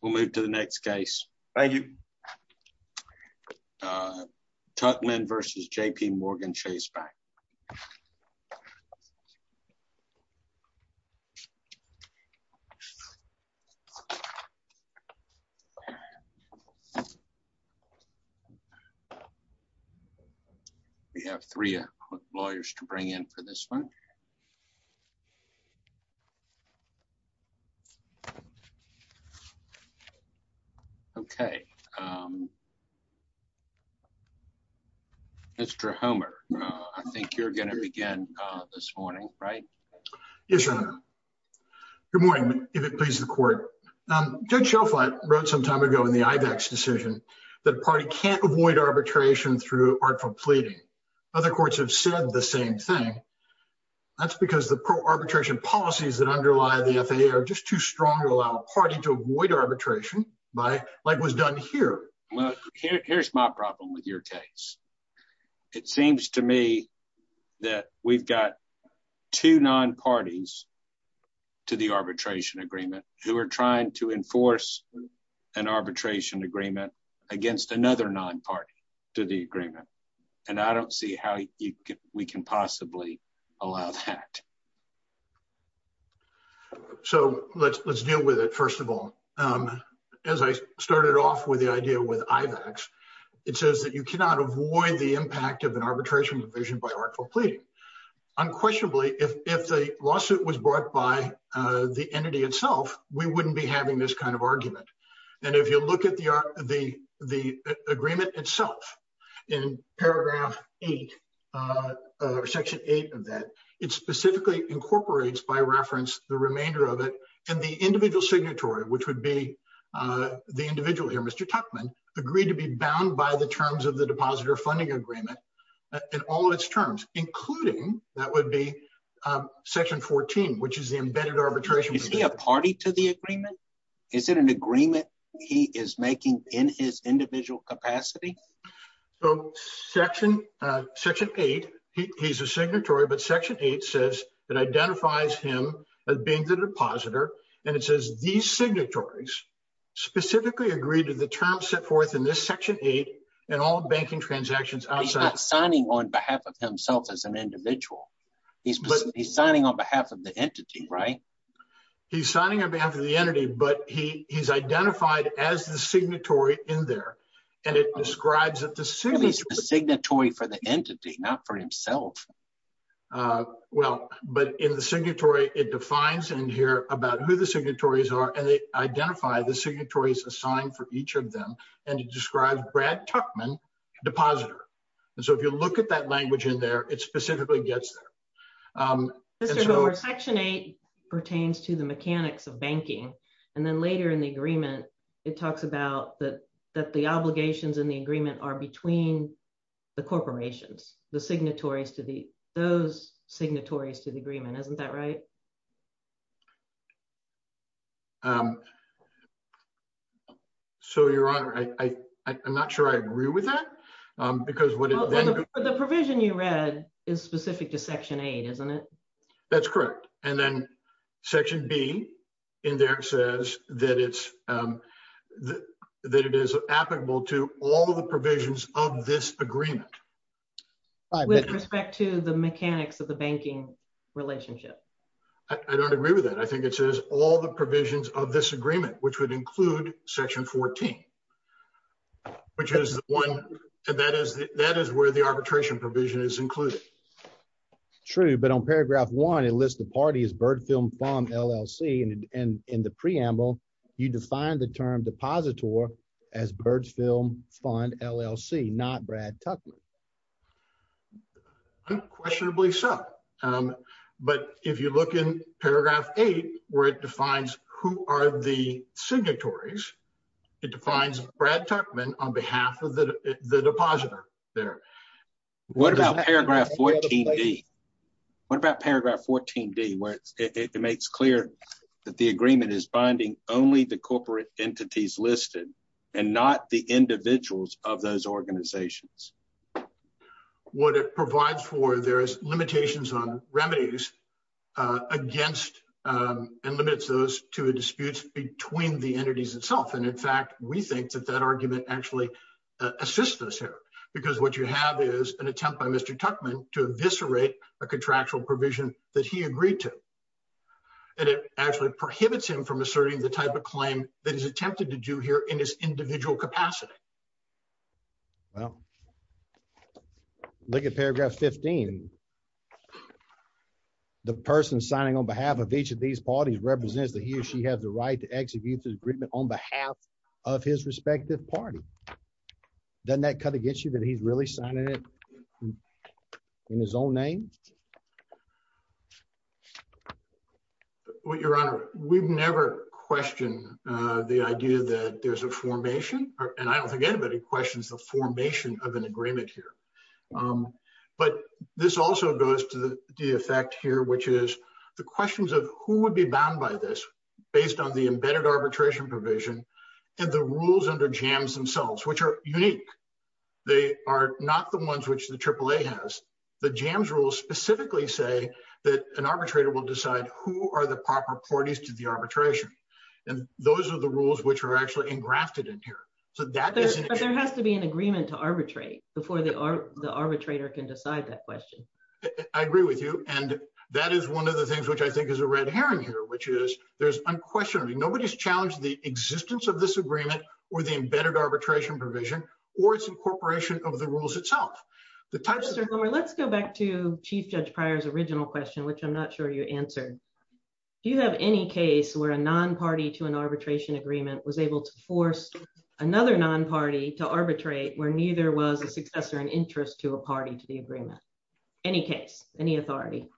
We'll move to the next case. Thank you. Tuckman v. JPMorgan Chase Bank. We have three lawyers to bring in for this one. Okay. Mr. Homer, I think you're going to begin this morning, right? Yes, Your Honor. Good morning, if it pleases the court. Judge Shelflight wrote some time ago in the IVAC's decision that a party can't avoid arbitration through artful pleading. Other courts have said the same thing. That's because the pro-arbitration policies that underlie the by like was done here. Well, here's my problem with your case. It seems to me that we've got two non-parties to the arbitration agreement who are trying to enforce an arbitration agreement against another non-party to the agreement. And I don't see how we can possibly allow that. So let's deal with it, first of all. As I started off with the idea with IVAC's, it says that you cannot avoid the impact of an arbitration provision by artful pleading. Unquestionably, if the lawsuit was brought by the entity itself, we wouldn't be having this kind of argument. And if you look at the agreement itself, in paragraph eight, section eight of that, it specifically incorporates by reference the remainder of it and the individual signatory, which would be the individual here, Mr. Tuckman, agreed to be bound by the terms of the depositor funding agreement and all of its terms, including that would be section 14, which is the embedded arbitration. Is he a party to the agreement? Is it an agreement he is making in his individual capacity? So section eight, he's a signatory, but section eight says that identifies him as being the depositor. And it says these signatories specifically agreed to the terms set forth in this section eight and all banking transactions outside. He's not signing on behalf of himself as an individual. He's signing on behalf of the entity, but he's identified as the signatory in there. And it describes that the signatory for the entity, not for himself. Well, but in the signatory, it defines in here about who the signatories are, and they identify the signatories assigned for each of them. And it describes Brad Tuckman, depositor. And so if you look at that language in there, it specifically gets there. Section eight pertains to the mechanics of banking. And then later in the agreement, it talks about that the obligations in the agreement are between the corporations, the signatories to those signatories to the agreement. Isn't that right? So your honor, I'm not sure I agree with that. The provision you read is specific to section eight, isn't it? That's correct. And then section B in there says that it's that it is applicable to all the provisions of this agreement. With respect to the mechanics of the banking relationship. I don't agree with that. I think it says all the provisions of this agreement, which would include section 14, which is the one that is that is where the arbitration provision is included. It's true, but on paragraph one, it lists the party as Bird Film Fund, LLC. And in the preamble, you define the term depositor as Bird Film Fund, LLC, not Brad Tuckman. Unquestionably so. But if you look in paragraph eight, where it defines who are the signatories, it defines Brad Tuckman on behalf of the depositor there. What about paragraph 14-D? What about paragraph 14-D where it makes clear that the agreement is binding only the corporate entities listed and not the individuals of those organizations? What it provides for there is limitations on remedies against and limits those to disputes between the entities itself. And in fact, we think that that argument actually assists us here, because what you have is an attempt by Mr. Tuckman to eviscerate a contractual provision that he agreed to. And it actually prohibits him from asserting the type of claim that he's attempted to do here in his individual capacity. Well, look at paragraph 15. The person signing on behalf of each of these parties represents that he or she has the right to execute the agreement on behalf of his respective party. Doesn't that cut against you that he's really signing it in his own name? Your Honor, we've never questioned the idea that there's a formation, and I don't think anybody questions the formation of an agreement here. But this also goes to the effect here, which is the questions of who would be bound by this based on the embedded arbitration provision and the rules under JAMS themselves, which are unique. They are not the ones which the AAA has. The JAMS rules specifically say that an arbitrator will decide who are the proper parties to the arbitration. And those are the rules which are actually engrafted in here. But there has to be an agreement to arbitrate before the arbitrator can decide that question. I agree with you. And that is one of the things which I think is a red herring here, which is there's unquestionably nobody's challenged the existence of this agreement or the embedded arbitration provision or its incorporation of the rules itself. Let's go back to Chief Judge Pryor's original question, which I'm not sure you answered. Do you have any case where a non-party to an arbitration agreement was able to force another non-party to arbitrate where neither was a successor in interest to a party to the agreement? Any case, any authority?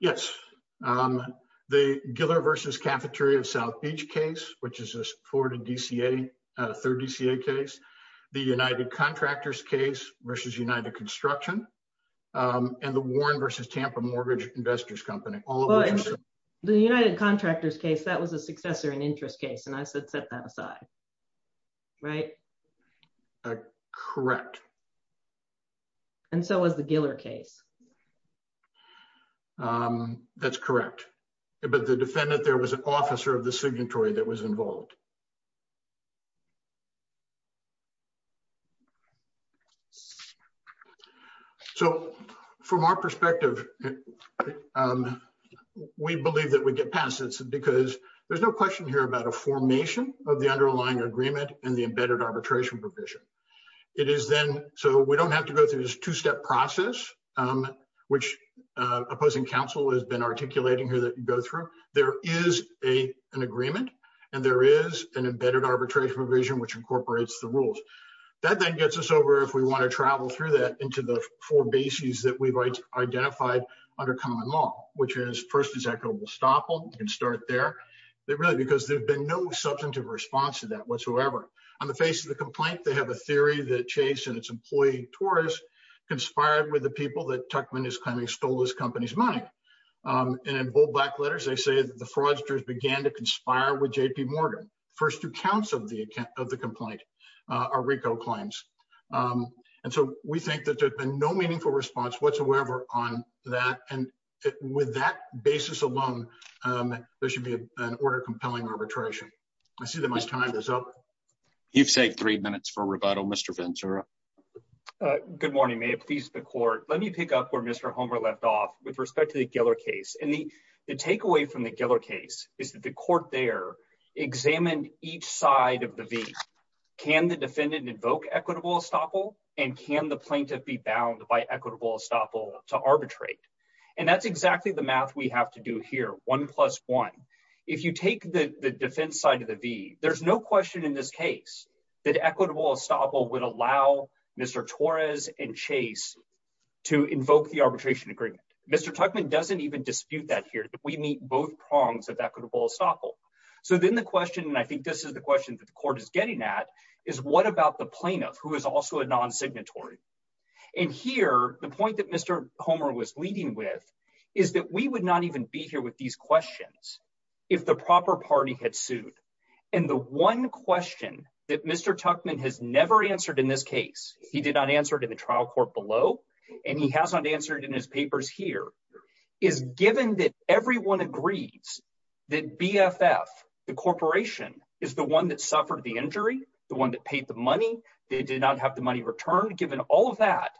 Yes. The Giller versus Cafeteria of South Beach case, which is a supported DCA, third DCA case. The United Contractors case versus United Construction. And the Warren versus Tampa Mortgage Investors Company. The United Contractors case, that was a successor in interest case. And I said, set that aside. Right? Correct. And so was the Giller case. That's correct. But the defendant there was an officer of the signatory that was involved. So from our perspective, we believe that we get past this because there's no question here about a formation of the underlying agreement and the embedded arbitration provision. It is then, so we don't have to go through this two-step process, which opposing counsel has been articulating here that you go through. There is an agreement and there is an embedded arbitration provision which incorporates the rules. That then gets us over if we want to travel through that into the four bases that we've identified under common law, which is first, is that global stop and start there. They really, because there's been no substantive response to that whatsoever. On the face of the complaint, they have a theory that Chase and its employee Torres conspired with the people that Tuckman is claiming stole this company's money. And in bold black letters, they say that the fraudsters began to conspire with JP Morgan. First two counts of the complaint are RICO claims. And so we think that there's been no meaningful response whatsoever on that. And with that basis alone, there should be an order compelling arbitration. I see that my time is up. You've saved three minutes for rebuttal, Mr. Ventura. Good morning, may it please the court. Let me pick up where Mr. Homer left off with respect to the Giller case. And the takeaway from the Giller case is that the court there examined each side of the V. Can the defendant invoke equitable estoppel and can the plaintiff be bound by equitable estoppel to arbitrate? And that's exactly the math we have to do here. One plus one. If you take the defense side of the V, there's no question in this case that equitable estoppel would allow Mr. Torres and Chase to invoke the arbitration agreement. Mr. Tuckman doesn't even dispute that here. We meet both prongs of equitable estoppel. So then the question, and I think this is the question that the court is getting at is what about the plaintiff who is also a non-signatory? And here, the point that Mr. Homer was leading with is that we would not even be here with these questions if the proper party had sued. And the one question that Mr. Tuckman has never answered in this case, he did not answer it in the trial court below, and he hasn't answered it in his papers here, is given that everyone agrees that BFF, the corporation, is the one that suffered the injury, the one that paid the money, they did not have the money returned. Given all of that,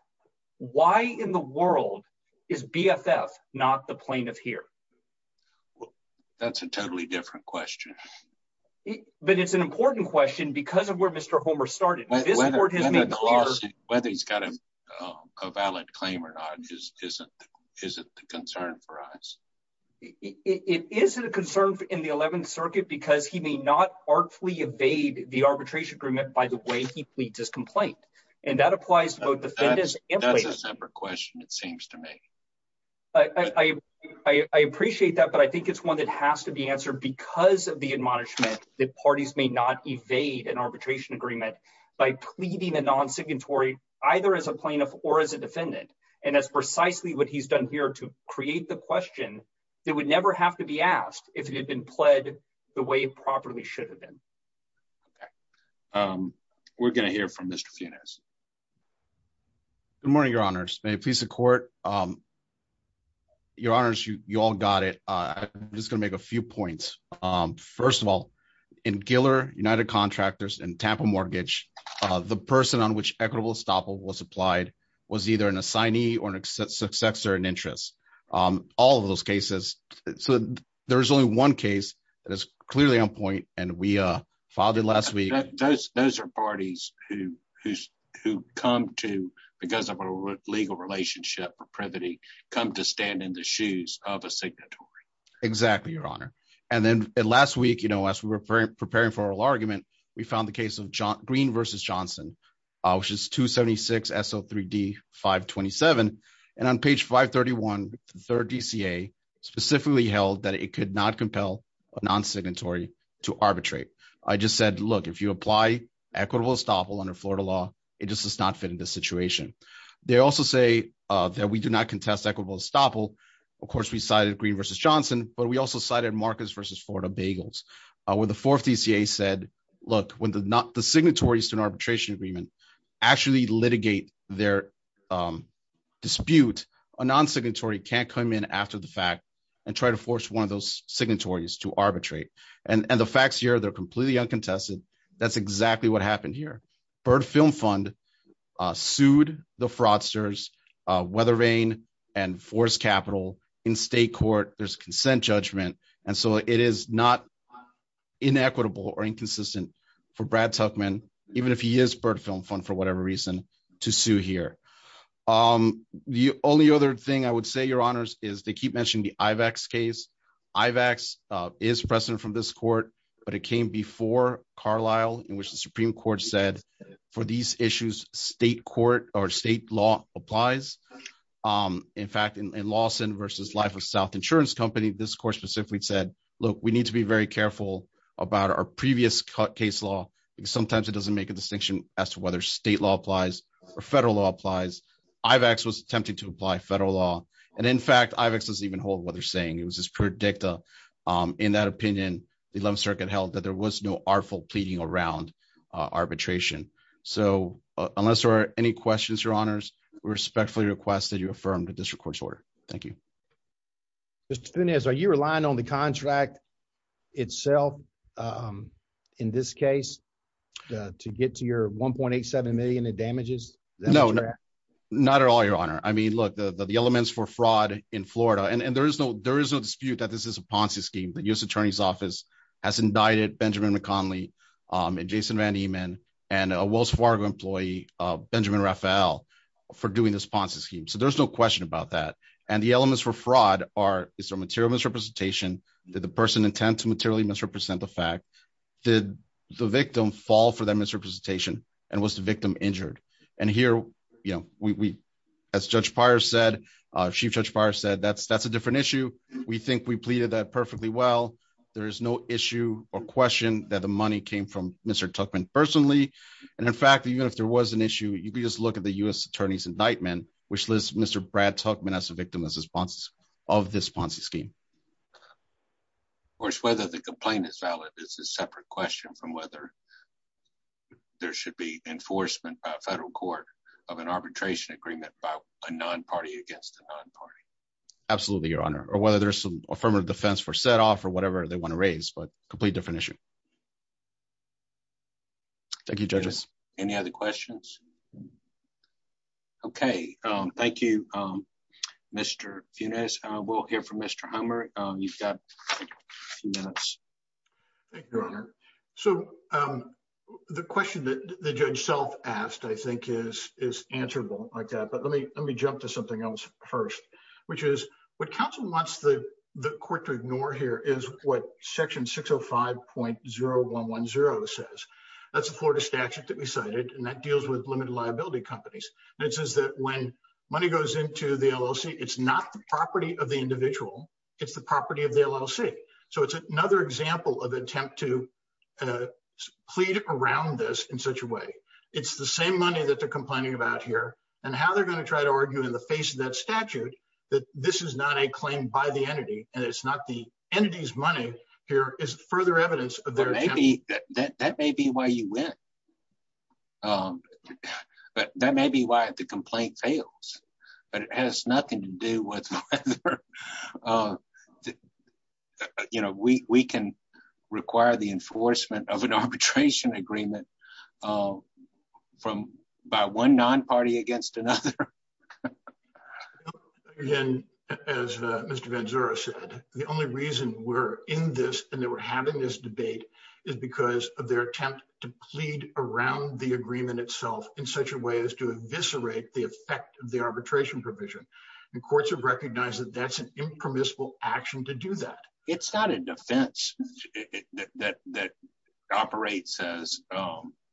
why in the world is BFF not the plaintiff here? Well, that's a totally different question. But it's an important question because of where Mr. Homer started. Whether he's got a valid claim or not isn't the concern for us. It isn't a concern in the 11th Circuit because he may not artfully evade the arbitration agreement by the way he pleads his complaint. And that applies to both defendants and plaintiffs. That's a separate question, it seems to me. I appreciate that, but I think it's one that has to be answered because of the admonishment that parties may not evade an arbitration agreement by pleading a non-signatory either as a plaintiff or as a defendant. And that's precisely what he's done here to create the question that would never have to be asked if it had been pled the way it properly should have been. Okay. We're going to hear from Mr. Funes. Good morning, your honors. May it please the court. Your honors, you all got it. I'm just going to make a few points. First of all, in Giller, United Contractors, and Tampa Mortgage, the person on which equitable estoppel was applied was either an assignee or an successor in interest. All of those cases, so there's only one case that is clearly on point and we filed it last week. Those are parties who come to, because of a legal relationship or privity, come to stand in the shoes of a signatory. Exactly, your honor. And then last week, as we were preparing for our argument, we found the case of Green v. Johnson, which is 276 S.O. 3D 527. And on page 531, the third DCA specifically held that it could not compel a non-signatory to arbitrate. I just said, look, if you apply equitable estoppel under Florida law, it just does not fit into the situation. They also say that we do not contest equitable estoppel. Of course, we cited Green v. Johnson, but we also cited Marcus v. Florida Bagels, where the fourth DCA said, look, when the signatories to an arbitration agreement actually litigate their dispute, a non-signatory can't come in and try to force one of those signatories to arbitrate. And the facts here, they're completely uncontested. That's exactly what happened here. Byrd Film Fund sued the fraudsters, Weathervane and Forrest Capital in state court. There's a consent judgment. And so it is not inequitable or inconsistent for Brad Tuchman, even if he is Byrd Film Fund for whatever reason, to sue here. The only other thing I would say, Your Honors, is they keep mentioning the IVAX case. IVAX is precedent from this court, but it came before Carlisle in which the Supreme Court said for these issues, state court or state law applies. In fact, in Lawson v. Life of South Insurance Company, this court specifically said, look, we need to be very careful about our federal law applies. IVAX was attempting to apply federal law. And in fact, IVAX doesn't even hold what they're saying. It was just per dicta. In that opinion, the 11th Circuit held that there was no artful pleading around arbitration. So unless there are any questions, Your Honors, we respectfully request that you affirm the district court's order. Thank you. Mr. Funes, are you relying on the contract itself in this case to get to your $1.87 million in the contract? No, not at all, Your Honor. I mean, look, the elements for fraud in Florida, and there is no dispute that this is a Ponzi scheme. The U.S. Attorney's Office has indicted Benjamin McConnelly and Jason Van Emen and a Wells Fargo employee, Benjamin Raphael, for doing this Ponzi scheme. So there's no question about that. And the elements for fraud are, is there material misrepresentation? Did the person intend to materially misrepresent the fact? Did the victim fall for that misrepresentation? And was the victim injured? And here, you know, as Judge Pires said, Chief Judge Pires said, that's a different issue. We think we pleaded that perfectly well. There is no issue or question that the money came from Mr. Tuchman personally. And in fact, even if there was an issue, you could just look at the U.S. Attorney's indictment, which lists Mr. Brad Tuchman as a victim of this Ponzi scheme. Of course, whether the complaint is valid is a separate question from whether there should be enforcement by a federal court of an arbitration agreement by a non-party against the non-party. Absolutely, Your Honor. Or whether there's some affirmative defense for set off or whatever they want to raise, but a completely different issue. Thank you, judges. Any other you've got a few minutes. Thank you, Your Honor. So the question that the judge self asked, I think is, is answerable like that. But let me, let me jump to something else first, which is what counsel wants the court to ignore here is what section 605.0110 says. That's a Florida statute that we cited, and that deals with limited liability companies. And it says that when money goes into the LLC, it's not the property of the individual. It's the property of the LLC. So it's another example of attempt to plead around this in such a way. It's the same money that they're complaining about here and how they're going to try to argue in the face of that statute that this is not a claim by the entity and it's not the entity's money here is further evidence of their maybe that that may be why you win. But that may be why the complaint fails. But it has nothing to do with whether, you know, we can require the enforcement of an arbitration agreement from by one non-party against another. Again, as Mr. Vanzura said, the only reason we're in this and that we're having this debate is because of their attempt to plead around the provision. The courts have recognized that that's an impermissible action to do that. It's not a defense that operates as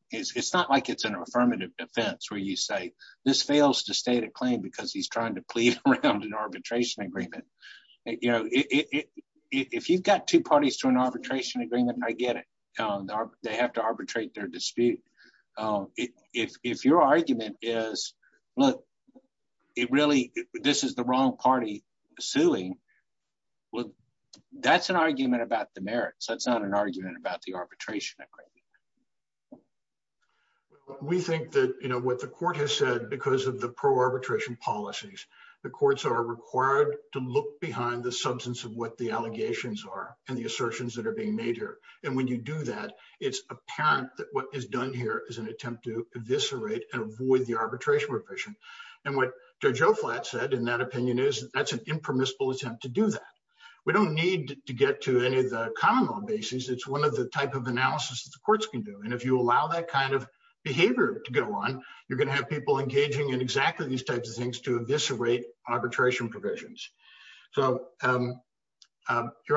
it's not like it's an affirmative defense where you say this fails to state a claim because he's trying to plead around an arbitration agreement. You know, if you've got two parties to an arbitration agreement, I get it. They have to arbitrate their dispute. If your argument is, look, it really this is the wrong party suing. Well, that's an argument about the merits. That's not an argument about the arbitration agreement. We think that, you know, what the court has said because of the pro arbitration policies, the courts are required to look behind the substance of what the allegations are and the assertions that are being made here. And when you do that, it's apparent that what is done here is an attempt to eviscerate and avoid the arbitration provision. And what Joe Flatt said in that opinion is that's an impermissible attempt to do that. We don't need to get to any of the common law basis. It's one of the type of analysis that the courts can do. And if you allow that kind of behavior to go on, you're going to have people engaging in exactly these types of things to eviscerate arbitration provisions. So, Your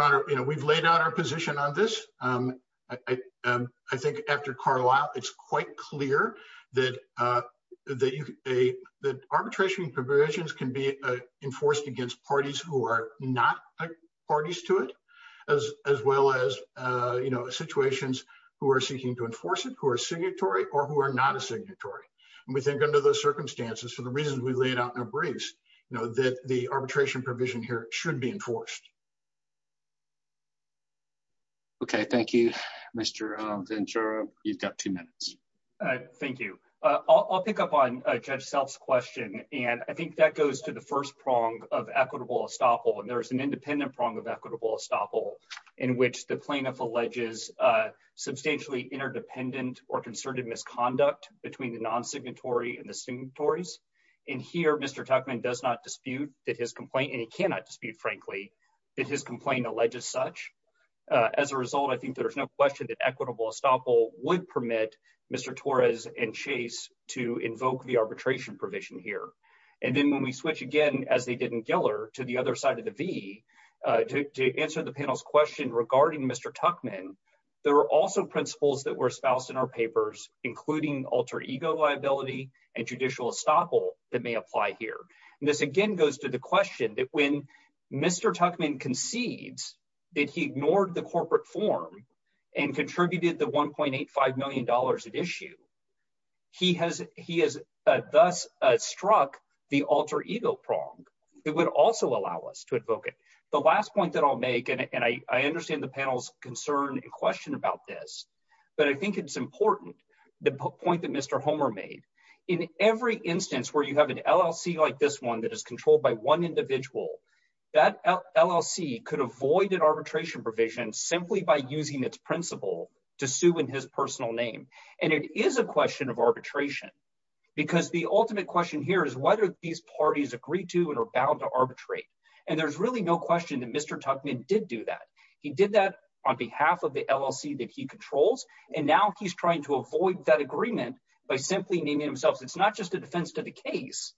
Honor, you know, we've laid out our position on this. I think after Carlisle, it's quite clear that arbitration provisions can be enforced against parties who are not parties to it, as well as, you know, situations who are seeking to enforce it, who are signatory or who are not a signatory. And we think under those circumstances, for the reasons we laid out that the arbitration provision here should be enforced. Okay, thank you, Mr. Ventura. You've got two minutes. Thank you. I'll pick up on Judge Self's question. And I think that goes to the first prong of equitable estoppel. And there's an independent prong of equitable estoppel in which the plaintiff alleges substantially interdependent or concerted misconduct between the non-signatory and the signatories. And here, Mr. Tuchman does not dispute that his complaint, and he cannot dispute, frankly, that his complaint alleges such. As a result, I think there's no question that equitable estoppel would permit Mr. Torres and Chase to invoke the arbitration provision here. And then when we switch again, as they did in Giller, to the other side of the V, to answer the panel's question regarding Mr. Tuchman, there are also principles that were espoused in our papers, including alter ego liability and judicial estoppel that may apply here. And this again goes to the question that when Mr. Tuchman concedes that he ignored the corporate form and contributed the $1.85 million at issue, he has thus struck the alter ego prong. It would also allow us to invoke it. The last point that I'll make, and I understand the panel's concern and question about this, but I think it's important, the point that Mr. Homer made, in every instance where you have an LLC like this one that is controlled by one individual, that LLC could avoid an arbitration provision simply by using its principle to sue in his personal name. And it is a question of arbitration, because the ultimate question here is whether these parties agree to and are bound to arbitrate. And there's really no question that Mr. Tuchman did do that. He did that on behalf of the LLC that he controls, and now he's trying to avoid that agreement by simply naming himself. It's not just a defense to the case,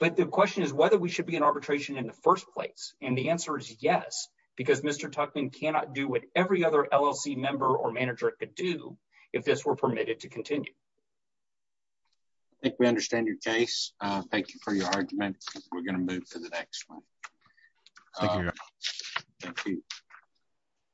but the question is whether we should be in arbitration in the first place. And the answer is yes, because Mr. Tuchman cannot do what every other LLC member or manager could do if this were permitted to continue. I think we understand your case. Thank you for your argument. We're going to move to the next one.